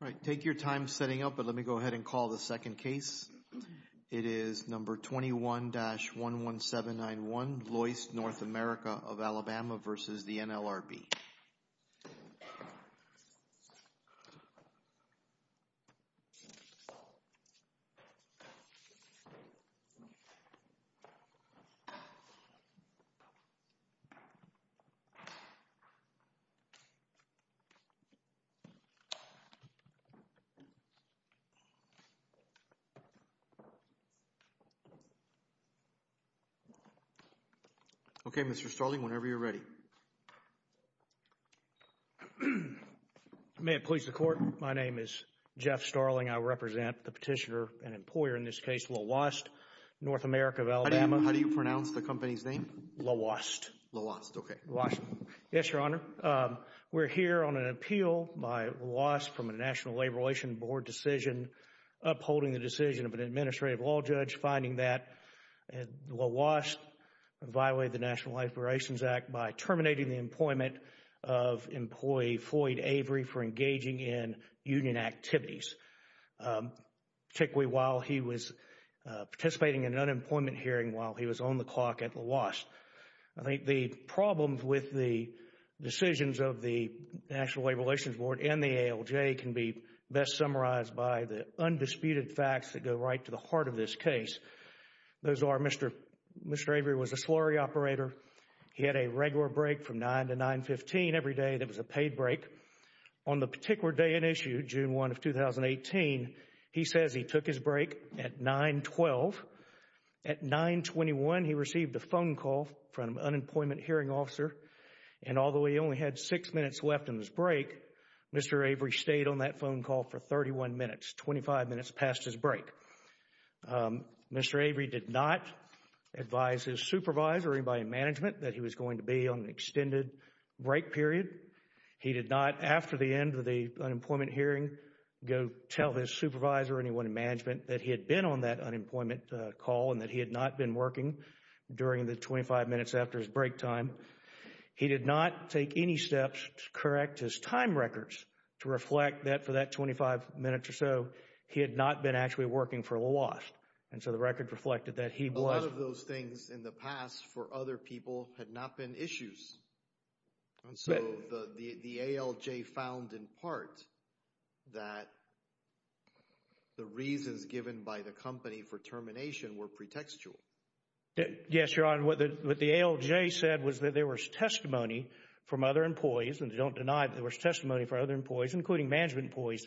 All right, take your time setting up, but let me go ahead and call the second case. It is number 21-11791, Loyce, North America of Alabama versus the NLRB. Okay, Mr. Starling, whenever you're ready. May it please the Court, my name is Jeff Starling. I represent the petitioner and employer in this case, Loyce, North America of Alabama. How do you pronounce the company's name? Loyce. Loyce, okay. Loyce. Yes, Your Honor. We're here on an appeal by Loyce from a National Labor Relations Board decision upholding the decision of an administrative law judge, finding that Loyce violated the National Labor Relations Act by terminating the employment of employee Floyd Avery for engaging in union activities, particularly while he was participating in an unemployment hearing while he was on the clock at Loyce. I think the problems with the decisions of the National Labor Relations Board and the of this case. Those are Mr. Avery was a slurry operator, he had a regular break from 9 to 9.15 every day that was a paid break. On the particular day in issue, June 1 of 2018, he says he took his break at 9.12. At 9.21, he received a phone call from an unemployment hearing officer and although he only had six minutes left in his break, Mr. Avery stayed on that phone call for 31 minutes, 25 minutes past his break. Mr. Avery did not advise his supervisor or anybody in management that he was going to be on an extended break period. He did not, after the end of the unemployment hearing, go tell his supervisor or anyone in management that he had been on that unemployment call and that he had not been working during the 25 minutes after his break time. He did not take any steps to correct his time records to reflect that for that 25 minutes or so, he had not been actually working for the loss. And so the record reflected that he was. A lot of those things in the past for other people had not been issues. And so the ALJ found in part that the reasons given by the company for termination were pretextual. Yes, Your Honor. What the ALJ said was that there was testimony from other employees, and they don't deny that there was testimony from other employees, including management employees,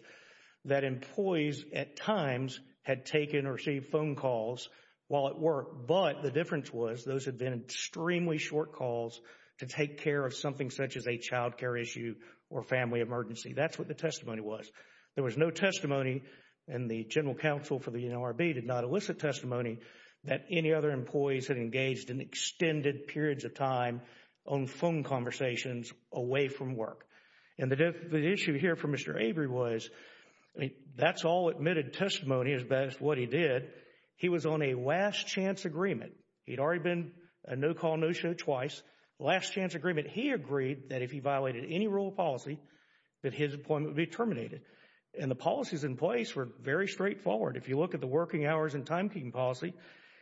that employees at times had taken or received phone calls while at work, but the difference was those had been extremely short calls to take care of something such as a child care issue or family emergency. That's what the testimony was. There was no testimony and the General Counsel for the NLRB did not elicit testimony that any other employees had engaged in extended periods of time on phone conversations away from work. And the issue here for Mr. Avery was, that's all admitted testimony as best what he did. He was on a last chance agreement. He'd already been a no call, no show twice. Last chance agreement. He agreed that if he violated any rule of policy, that his appointment would be terminated. And the policies in place were very straightforward. If you look at the working hours and timekeeping policy,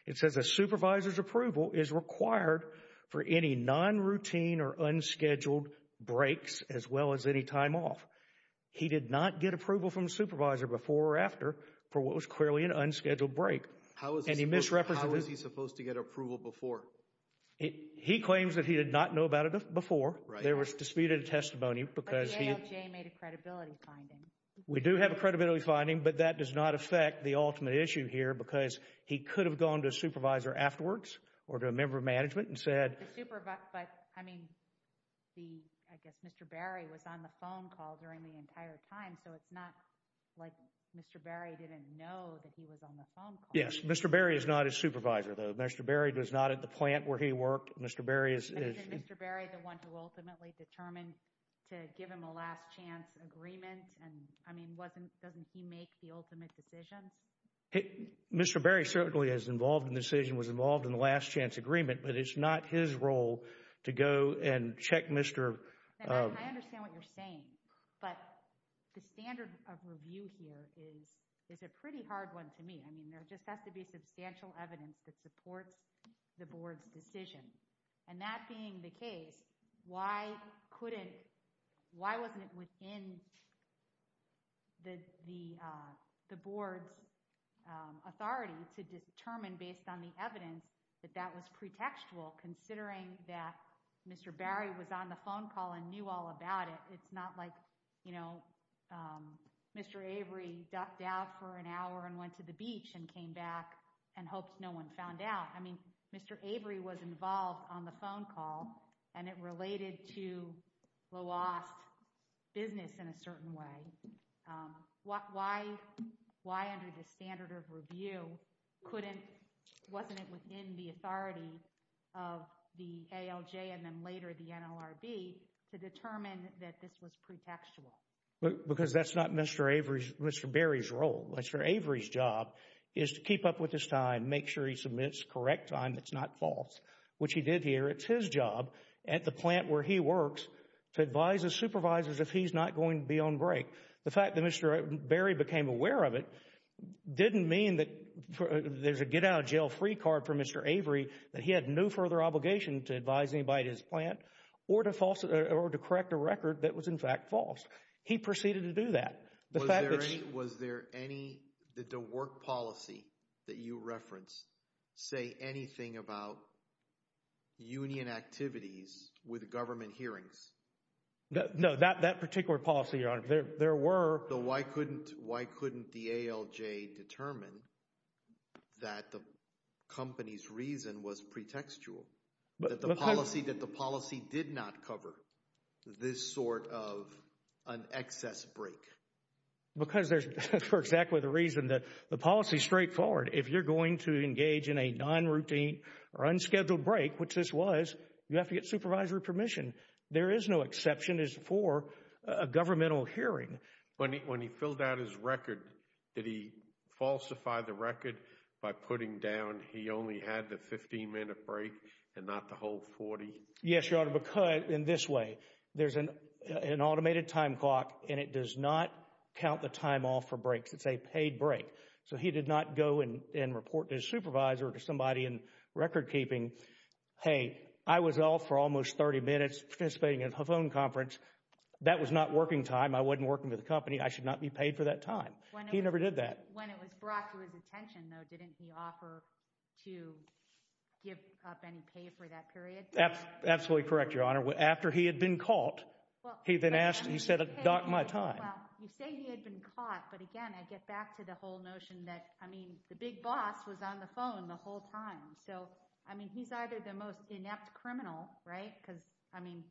it says a supervisor's approval is required for any non-routine or unscheduled breaks, as well as any time off. He did not get approval from the supervisor before or after for what was clearly an unscheduled break. How was he supposed to get approval before? He claims that he did not know about it before. There was disputed testimony because he... But the ALJ made a credibility finding. We do have a credibility finding, but that does not affect the ultimate issue here because he could have gone to a supervisor afterwards or to a member of management and said... But I mean, I guess Mr. Barry was on the phone call during the entire time, so it's not like Mr. Barry didn't know that he was on the phone call. Yes. Mr. Barry is not a supervisor, though. Mr. Barry was not at the plant where he worked. Mr. Barry is... I mean, doesn't he make the ultimate decisions? Mr. Barry certainly is involved in the decision, was involved in the last chance agreement, but it's not his role to go and check Mr.... I understand what you're saying, but the standard of review here is a pretty hard one to meet. I mean, there just has to be substantial evidence that supports the board's decision. And that being the case, why couldn't... Why wasn't it within the board's authority to determine based on the evidence that that was pretextual considering that Mr. Barry was on the phone call and knew all about it? It's not like Mr. Avery ducked out for an hour and went to the beach and came back and hoped no one found out. Why? I mean, Mr. Avery was involved on the phone call and it related to Loas' business in a certain way. Why under the standard of review couldn't... Wasn't it within the authority of the ALJ and then later the NLRB to determine that this was pretextual? Because that's not Mr. Avery's... Mr. Barry's role. Mr. Avery's job is to keep up with his time, make sure he submits correct time that's not false, which he did here. It's his job at the plant where he works to advise his supervisors if he's not going to be on break. The fact that Mr. Barry became aware of it didn't mean that there's a get out of jail free card for Mr. Avery, that he had no further obligation to advise anybody at his plant or to correct a record that was in fact false. He proceeded to do that. Was there any... The fact that... Was there any... Did the work policy that you referenced say anything about union activities with government hearings? No. That particular policy, Your Honor, there were... Why couldn't the ALJ determine that the company's reason was pretextual? That the policy did not cover this sort of an excess break? Because there's... For exactly the reason that the policy's straightforward. If you're going to engage in a non-routine or unscheduled break, which this was, you have to get supervisory permission. There is no exception as for a governmental hearing. When he filled out his record, did he falsify the record by putting down he only had the 15 minute break and not the whole 40? Yes, Your Honor, because in this way, there's an automated time clock and it does not count the time off for breaks. It's a paid break. So he did not go and report to his supervisor or to somebody in record keeping, hey, I was off for almost 30 minutes participating in a phone conference. That was not working time. I wasn't working for the company. I should not be paid for that time. He never did that. When it was brought to his attention, though, didn't he offer to give up any pay for that period? That's absolutely correct, Your Honor. After he had been caught, he then asked, he said, doc, my time. Well, you say he had been caught, but again, I get back to the whole notion that, I mean, the big boss was on the phone the whole time. So I mean, he's either the most inept criminal, right, because, I mean,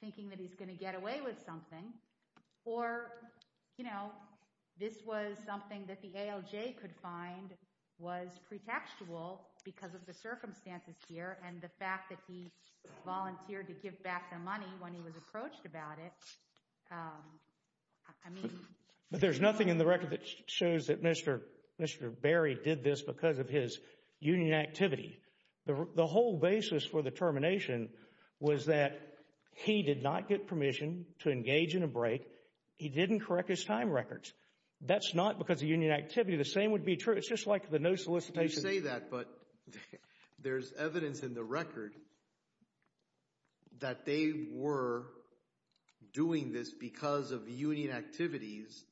thinking that he's going to get away with something, or, you know, this was something that the ALJ could find was pretextual because of the circumstances here and the fact that he volunteered to give back the money when he was approached about it. I mean. There's nothing in the record that shows that Mr. Berry did this because of his union activity. The whole basis for the termination was that he did not get permission to engage in a break. He didn't correct his time records. That's not because of union activity. The same would be true. It's just like the no solicitation. You say that, but there's evidence in the record that they were doing this because of union activities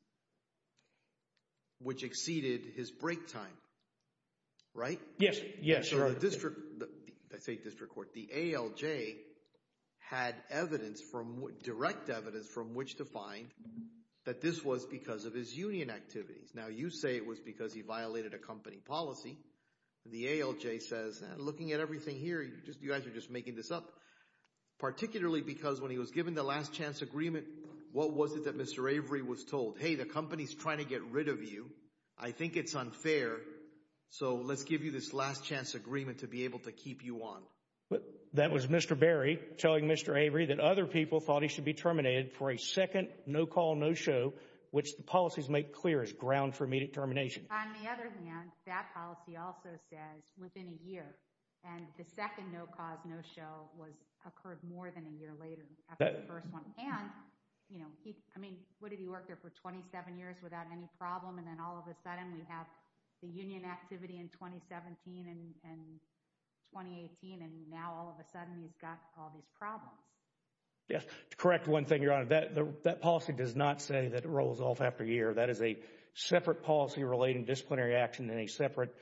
which exceeded his break time, right? Yes. So the district, I say district court, the ALJ had evidence, direct evidence from which to find that this was because of his union activities. Now you say it was because he violated a company policy. The ALJ says, looking at everything here, you guys are just making this up, particularly because when he was given the last chance agreement, what was it that Mr. Avery was told? Hey, the company's trying to get rid of you. I think it's unfair. So let's give you this last chance agreement to be able to keep you on. That was Mr. Berry telling Mr. Avery that other people thought he should be terminated for a second no-call, no-show, which the policies make clear is ground for immediate termination. On the other hand, that policy also says within a year, and the second no-cause, no-show occurred more than a year later after the first one, and what did he work there for, 27 years without any problem? And then all of a sudden, we have the union activity in 2017 and 2018, and now all of a sudden, he's got all these problems. Yes, to correct one thing, Your Honor, that policy does not say that it rolls off after a year. That is a separate policy relating disciplinary action and a separate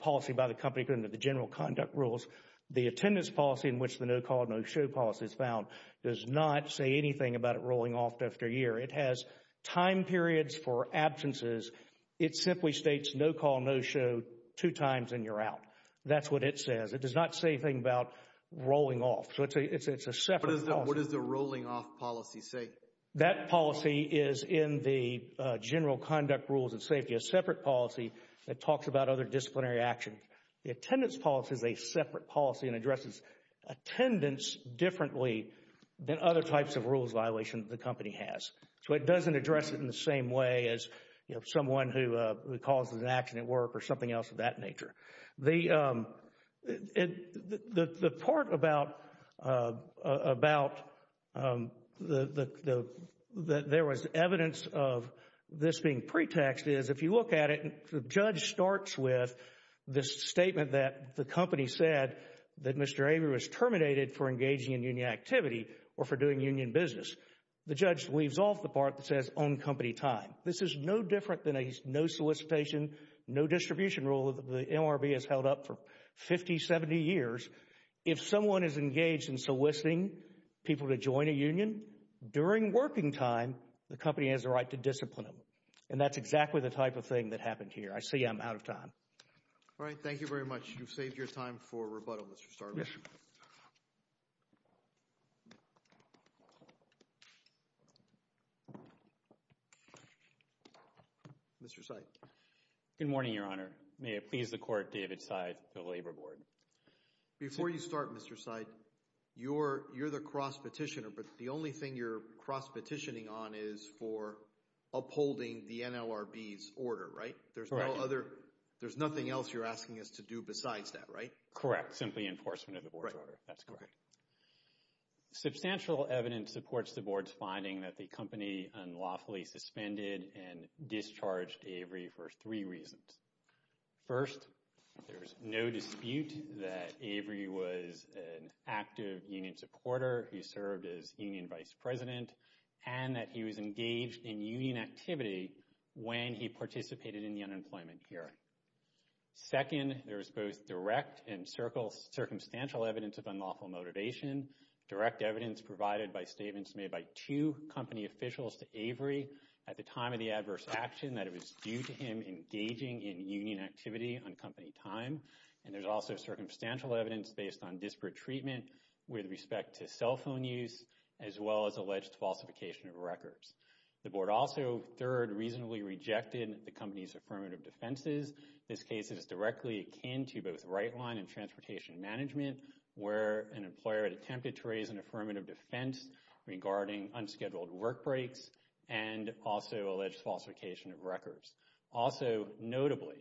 policy by the company put into the general conduct rules. The attendance policy in which the no-call, no-show policy is found does not say anything about it rolling off after a year. It has time periods for absences. It simply states no-call, no-show two times and you're out. That's what it says. It does not say anything about rolling off. So it's a separate policy. What does the rolling off policy say? That policy is in the general conduct rules of safety, a separate policy that talks about other disciplinary actions. The attendance policy is a separate policy and addresses attendance differently than other types of rules violation the company has. So it doesn't address it in the same way as someone who causes an accident at work or something else of that nature. The part about there was evidence of this being pretext is if you look at it, the judge starts with this statement that the company said that Mr. Avery was terminated for engaging in union activity or for doing union business. The judge leaves off the part that says on company time. This is no different than a no solicitation, no distribution rule that the MRB has held up for 50, 70 years. If someone is engaged in soliciting people to join a union during working time, the company has the right to discipline them. And that's exactly the type of thing that happened here. I see I'm out of time. All right. Thank you very much. You've saved your time for rebuttal, Mr. Starbucks. Mr. Seid. Good morning, Your Honor. May it please the Court, David Seid, the Labor Board. Before you start, Mr. Seid, you're the cross-petitioner, but the only thing you're cross-petitioning on is for upholding the NLRB's order, right? Correct. There's nothing else you're asking us to do besides that, right? Correct. Simply enforcement of the Board's order. Right. That's correct. Substantial evidence supports the Board's finding that the company unlawfully suspended and discharged Avery for three reasons. First, there's no dispute that Avery was an active union supporter, he served as union vice president, and that he was engaged in union activity when he participated in the unemployment hearing. Second, there's both direct and circumstantial evidence of unlawful motivation. Direct evidence provided by statements made by two company officials to Avery at the time of the adverse action that it was due to him engaging in union activity on company time. And there's also circumstantial evidence based on disparate treatment with respect to cell phone use, as well as alleged falsification of records. The Board also, third, reasonably rejected the company's affirmative defenses. This case is directly akin to both right line and transportation management, where an employer had attempted to raise an affirmative defense regarding unscheduled work breaks and also alleged falsification of records. Also notably,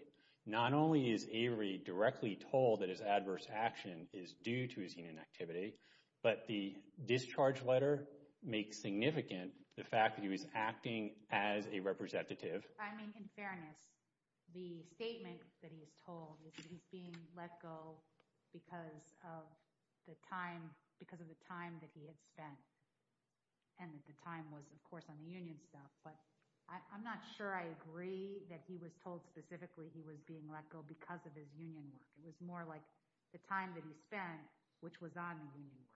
not only is Avery directly told that his adverse action is due to his union activity, but the discharge letter makes significant the fact that he was acting as a representative. I mean, in fairness, the statement that he is told is that he's being let go because of the time, because of the time that he had spent, and that the time was, of course, on the union stuff. But I'm not sure I agree that he was told specifically he was being let go because of his union work. It was more like the time that he spent, which was on the union work.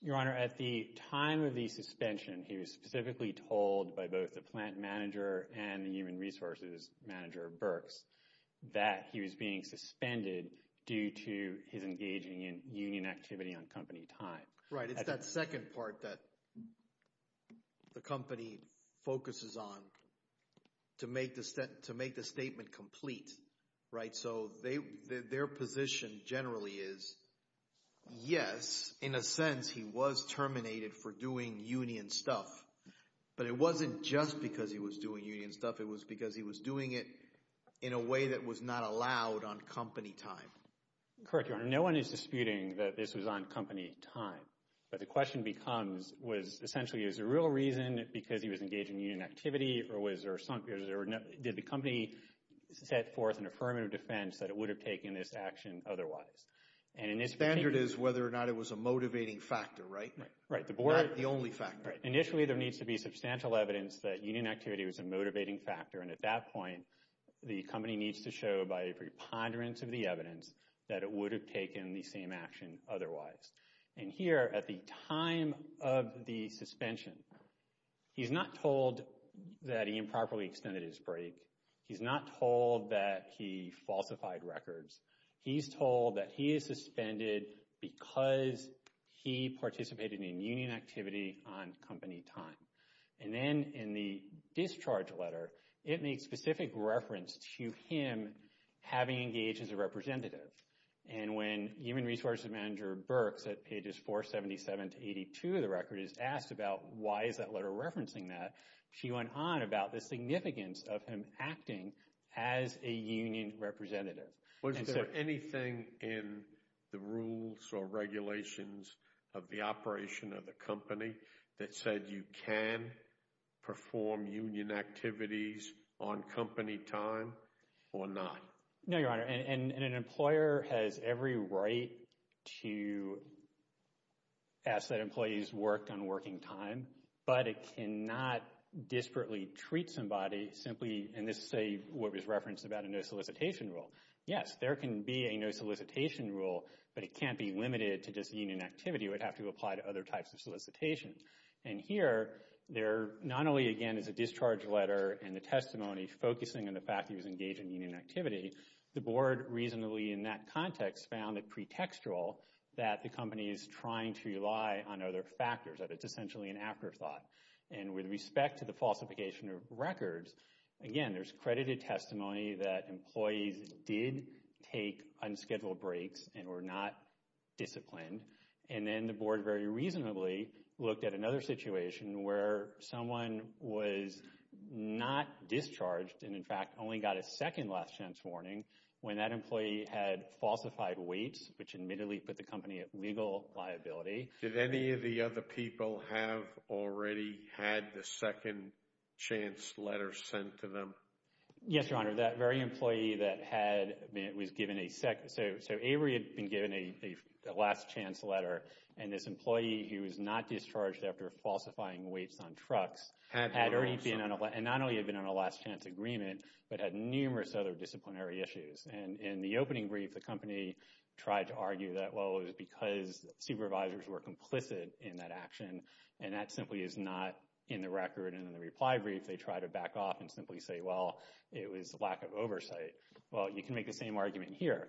Your Honor, at the time of the suspension, he was specifically told by both the plant manager and the human resources manager, Burks, that he was being suspended due to his engaging in union activity on company time. Right. It's that second part that the company focuses on to make the statement complete. Right? And so, their position generally is, yes, in a sense, he was terminated for doing union stuff, but it wasn't just because he was doing union stuff. It was because he was doing it in a way that was not allowed on company time. Correct, Your Honor. No one is disputing that this was on company time, but the question becomes, was essentially, is there a real reason because he was engaged in union activity, or did the company set forth an affirmative defense that it would have taken this action otherwise? And in this case— The standard is whether or not it was a motivating factor, right? Right. The board— Not the only factor. Right. Initially, there needs to be substantial evidence that union activity was a motivating factor, and at that point, the company needs to show by a preponderance of the evidence that it would have taken the same action otherwise. And here, at the time of the suspension, he's not told that he improperly extended his break. He's not told that he falsified records. He's told that he is suspended because he participated in union activity on company time. And then, in the discharge letter, it makes specific reference to him having engaged as a representative. And when human resources manager Burks, at pages 477 to 82 of the record, is asked about why is that letter referencing that, she went on about the significance of him acting as a union representative. And so— Was there anything in the rules or regulations of the operation of the company that said you can perform union activities on company time or not? No, Your Honor, and an employer has every right to ask that employees work on working time, but it cannot disparately treat somebody simply—and this is a—what was referenced about a no solicitation rule. Yes, there can be a no solicitation rule, but it can't be limited to just union activity. It would have to apply to other types of solicitation. And here, there not only, again, is a discharge letter and the testimony focusing on the fact he was engaged in union activity, the board reasonably, in that context, found it pretextual that the company is trying to rely on other factors, that it's essentially an afterthought. And with respect to the falsification of records, again, there's credited testimony that employees did take unscheduled breaks and were not disciplined. And then the board very reasonably looked at another situation where someone was not discharged and, in fact, only got a second last chance warning when that employee had admittedly put the company at legal liability. Did any of the other people have already had the second chance letter sent to them? Yes, Your Honor, that very employee that had—was given a second—so Avery had been given a last chance letter, and this employee who was not discharged after falsifying weights on trucks had already been on a—and not only had been on a last chance agreement, but had numerous other disciplinary issues. And in the opening brief, the company tried to argue that, well, it was because supervisors were complicit in that action, and that simply is not in the record. And in the reply brief, they try to back off and simply say, well, it was lack of oversight. Well, you can make the same argument here.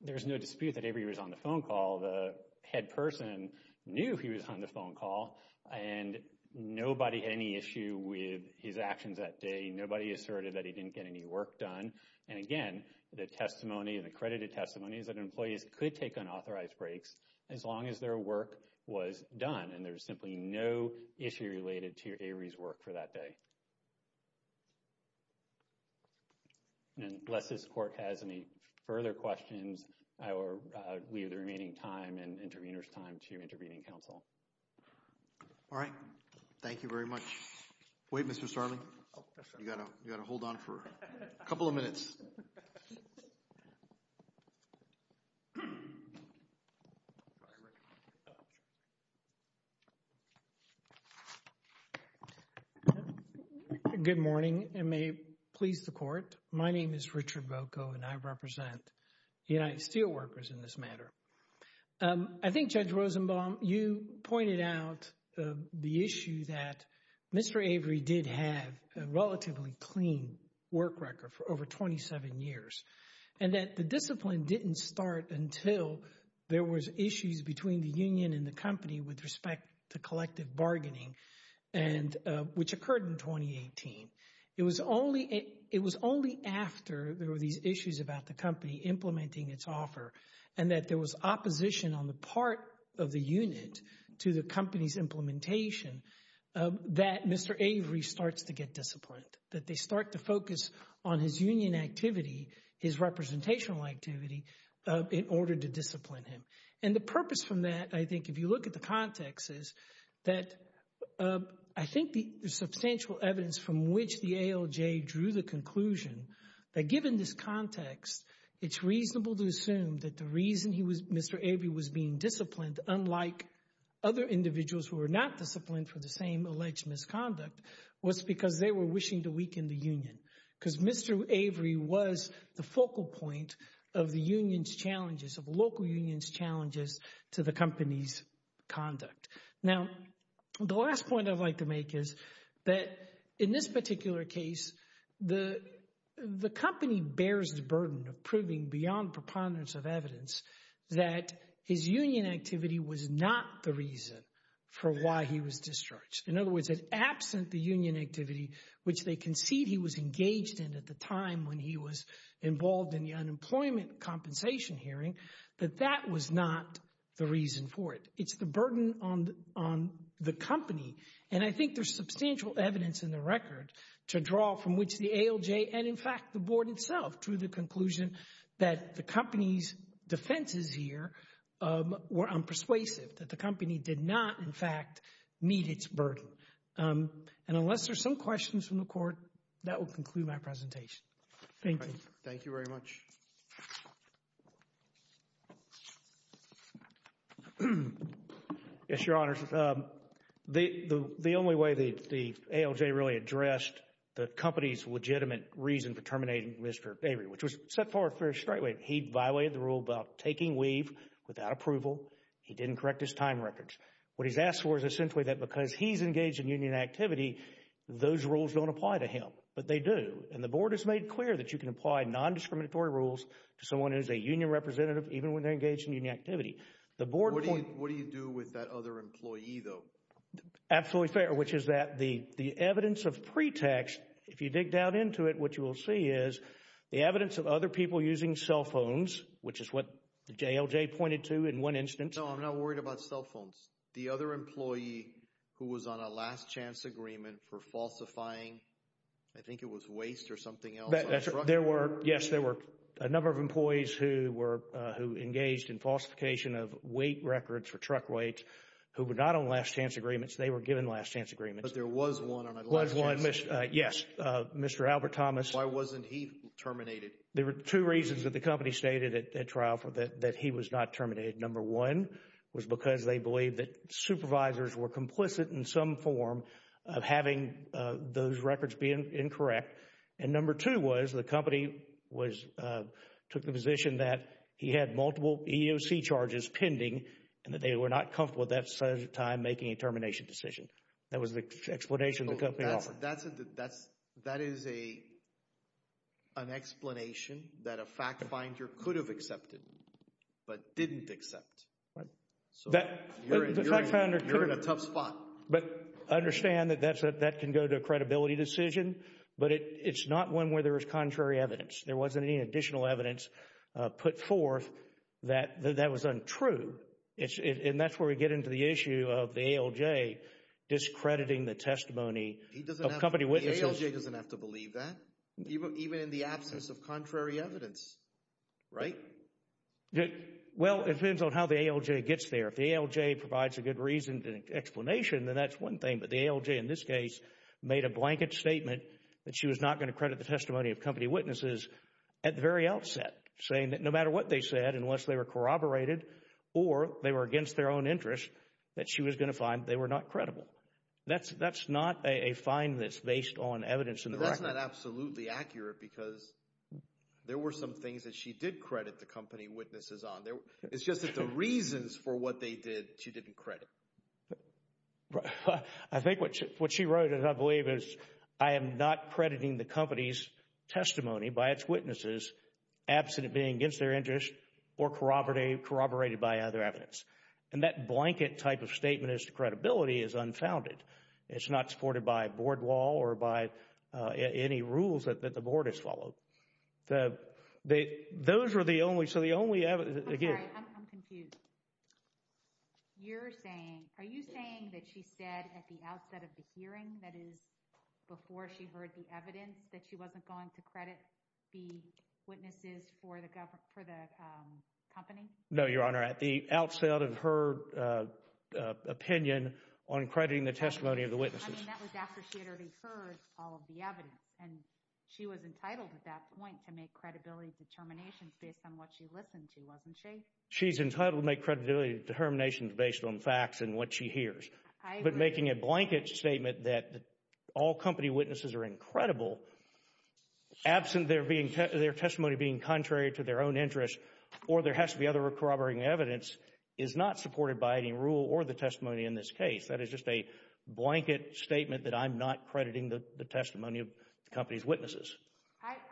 There's no dispute that Avery was on the phone call. The head person knew he was on the phone call, and nobody had any issue with his actions that day. Nobody asserted that he didn't get any work done. And again, the testimony, the accredited testimony, is that employees could take unauthorized breaks as long as their work was done, and there's simply no issue related to Avery's work for that day. And unless this Court has any further questions, we have the remaining time and intervener's time to intervene in counsel. All right. Thank you very much. Wait, Mr. Starling. Oh, yes, sir. You've got to hold on for a couple of minutes. Good morning, and may it please the Court. My name is Richard Boko, and I represent United Steelworkers in this matter. I think, Judge Rosenbaum, you pointed out the issue that Mr. Avery did have a relatively clean work record for over 27 years, and that the discipline didn't start until there was issues between the union and the company with respect to collective bargaining, and which occurred in 2018. It was only after there were these issues about the company implementing its offer, and that there was opposition on the part of the unit to the company's implementation, that Mr. Avery starts to get disciplined, that they start to focus on his union activity, his representational activity, in order to discipline him. And the purpose from that, I think, if you look at the context, is that I think the substantial evidence from which the ALJ drew the conclusion that, given this context, it's reasonable to assume that the reason Mr. Avery was being disciplined, unlike other individuals who were not disciplined for the same alleged misconduct, was because they were wishing to weaken the union. Because Mr. Avery was the focal point of the union's challenges, of local union's challenges to the company's conduct. Now, the last point I'd like to make is that, in this particular case, the company bears the burden of proving, beyond preponderance of evidence, that his union activity was not the reason for why he was discharged. In other words, absent the union activity, which they concede he was engaged in at the time when he was involved in the unemployment compensation hearing, that that was not the reason for it. It's the burden on the company, and I think there's substantial evidence in the record to draw from which the ALJ, and in fact the Board itself, drew the conclusion that the company's defenses here were unpersuasive, that the company did not, in fact, meet its burden. And unless there's some questions from the Court, that will conclude my presentation. Thank you. Thank you very much. Yes, Your Honors, the only way the ALJ really addressed the company's legitimate reason for terminating Mr. Avery, which was set forth very straightaway, he violated the rule about taking leave without approval. He didn't correct his time records. What he's asked for is essentially that because he's engaged in union activity, those rules don't apply to him. But they do. And the Board has made clear that you can apply nondiscriminatory rules to someone who is a union representative, even when they're engaged in union activity. The Board... What do you do with that other employee, though? Absolutely fair, which is that the evidence of pretext, if you dig down into it, what you will see is the evidence of other people using cell phones, which is what the ALJ pointed to in one instance. No, I'm not worried about cell phones. The other employee who was on a last chance agreement for falsifying, I think it was waste or something else. There were, yes, there were a number of employees who engaged in falsification of weight records for truck weights, who were not on last chance agreements. They were given last chance agreements. But there was one on a last chance... Was one, yes, Mr. Albert Thomas. Why wasn't he terminated? There were two reasons that the company stated at trial that he was not terminated. Number one was because they believed that supervisors were complicit in some form of having those records be incorrect. And number two was the company took the position that he had multiple EEOC charges pending and that they were not comfortable at that time making a termination decision. That was the explanation the company offered. That's a, that's, that is a, an explanation that a fact finder could have accepted, but didn't accept. Right. So, you're in a tough spot. But understand that that can go to a credibility decision, but it's not one where there is contrary evidence. There wasn't any additional evidence put forth that that was untrue. And that's where we get into the issue of the ALJ discrediting the testimony. He doesn't have to, the ALJ doesn't have to believe that, even in the absence of contrary evidence, right? Well, it depends on how the ALJ gets there. If the ALJ provides a good reason and explanation, then that's one thing, but the ALJ in this case made a blanket statement that she was not going to credit the testimony of company witnesses at the very outset, saying that no matter what they said, unless they were corroborated or they were against their own interests, that she was going to find they were not credible. That's not a finding that's based on evidence in the record. But that's not absolutely accurate, because there were some things that she did credit the company witnesses on. It's just that the reasons for what they did, she didn't credit. I think what she wrote, I believe, is, I am not crediting the company's testimony by its witnesses absent of being against their interest or corroborated by other evidence. And that blanket type of statement is credibility is unfounded. It's not supported by board wall or by any rules that the board has followed. Those were the only, so the only evidence... I'm sorry, I'm confused. You're saying, are you saying that she said at the outset of the hearing, that is before she heard the evidence, that she wasn't going to credit the witnesses for the company? No, Your Honor. At the outset of her opinion on crediting the testimony of the witnesses. I mean, that was after she had already heard all of the evidence. And she was entitled at that point to make credibility determinations based on what she listened to, wasn't she? She's entitled to make credibility determinations based on facts and what she hears. But making a blanket statement that all company witnesses are incredible, absent their testimony being contrary to their own interest, or there has to be other corroborating evidence, is not supported by any rule or the testimony in this case. That is just a blanket statement that I'm not crediting the testimony of the company's witnesses.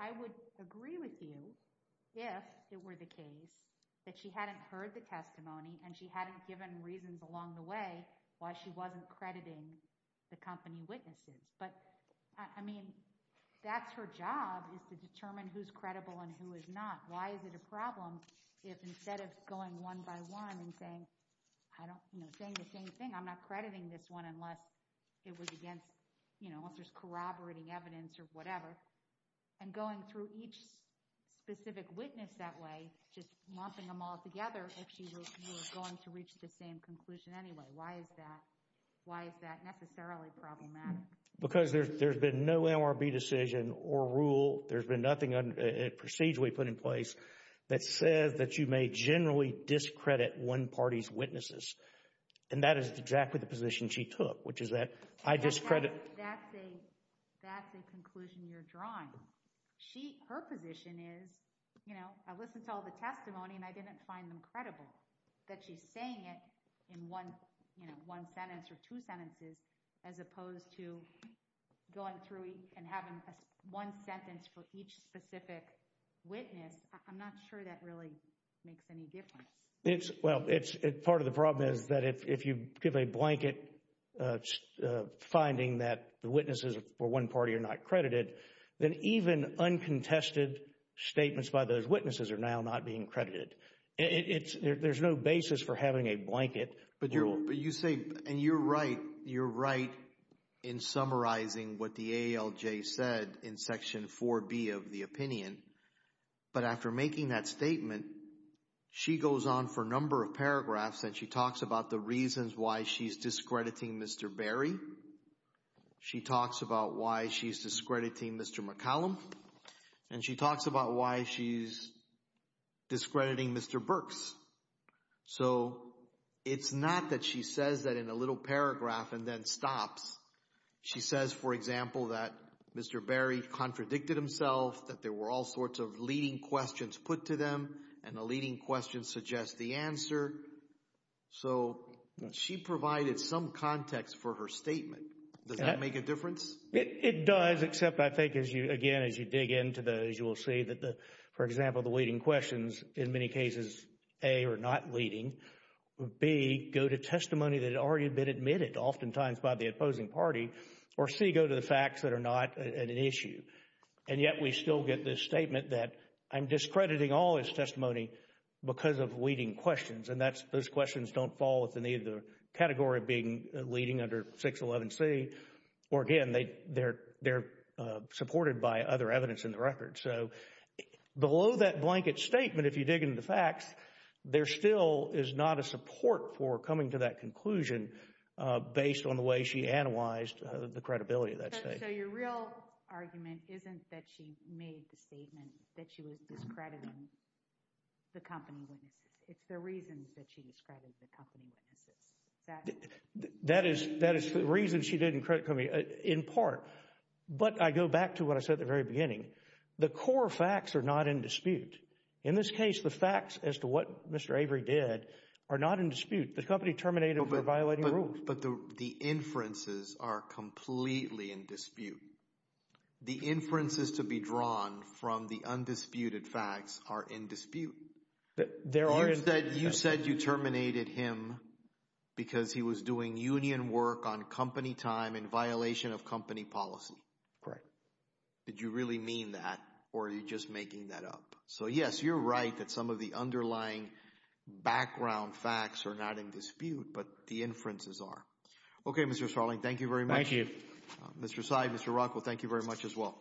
I would agree with you if it were the case that she hadn't heard the testimony and she hadn't given reasons along the way why she wasn't crediting the company witnesses. But, I mean, that's her job, is to determine who's credible and who is not. Why is it a problem if instead of going one by one and saying, I'm not crediting this one unless it was against, you know, if there's corroborating evidence or whatever, and going through each specific witness that way, just lumping them all together, if she was going to reach the same conclusion anyway, why is that? Why is that necessarily problematic? Because there's been no MRB decision or rule, there's been nothing procedurally put in place that says that you may generally discredit one party's witnesses. And that is exactly the position she took, which is that, I discredit... That's a conclusion you're drawing. Her position is, you know, I listened to all the testimony and I didn't find them credible. So, that she's saying it in one, you know, one sentence or two sentences, as opposed to going through and having one sentence for each specific witness, I'm not sure that really makes any difference. It's... Well, it's... Part of the problem is that if you give a blanket finding that the witnesses for one party are not credited, then even uncontested statements by those witnesses are now not being credited. It's... There's no basis for having a blanket. But you're... But you say... And you're right. You're right in summarizing what the ALJ said in Section 4B of the opinion. But after making that statement, she goes on for a number of paragraphs and she talks about the reasons why she's discrediting Mr. Berry. She talks about why she's discrediting Mr. McCallum. And she talks about why she's discrediting Mr. Burks. So, it's not that she says that in a little paragraph and then stops. She says, for example, that Mr. Berry contradicted himself, that there were all sorts of leading questions put to them, and the leading questions suggest the answer. So, she provided some context for her statement. Does that make a difference? It does, except I think as you, again, as you dig into those, you will see that the, for example, the leading questions, in many cases, A, are not leading, B, go to testimony that had already been admitted, oftentimes by the opposing party, or C, go to the facts that are not an issue. And yet we still get this statement that I'm discrediting all his testimony because of leading questions. And that's... Those questions don't fall within either category of being leading under 611C or, again, they are supported by other evidence in the record. So, below that blanket statement, if you dig into the facts, there still is not a support for coming to that conclusion based on the way she analyzed the credibility of that statement. So, your real argument isn't that she made the statement that she was discrediting the company witnesses. It's the reasons that she discredited the company witnesses. That is the reason she didn't credit the company. In part. But I go back to what I said at the very beginning. The core facts are not in dispute. In this case, the facts as to what Mr. Avery did are not in dispute. The company terminated him for violating rules. But the inferences are completely in dispute. The inferences to be drawn from the undisputed facts are in dispute. There are... You said you terminated him because he was doing union work on company time and violation of company policy. Correct. Did you really mean that or are you just making that up? So, yes, you're right that some of the underlying background facts are not in dispute, but the inferences are. Okay, Mr. Sarling, thank you very much. Thank you. Mr. Sy, Mr. Rockwell, thank you very much as well.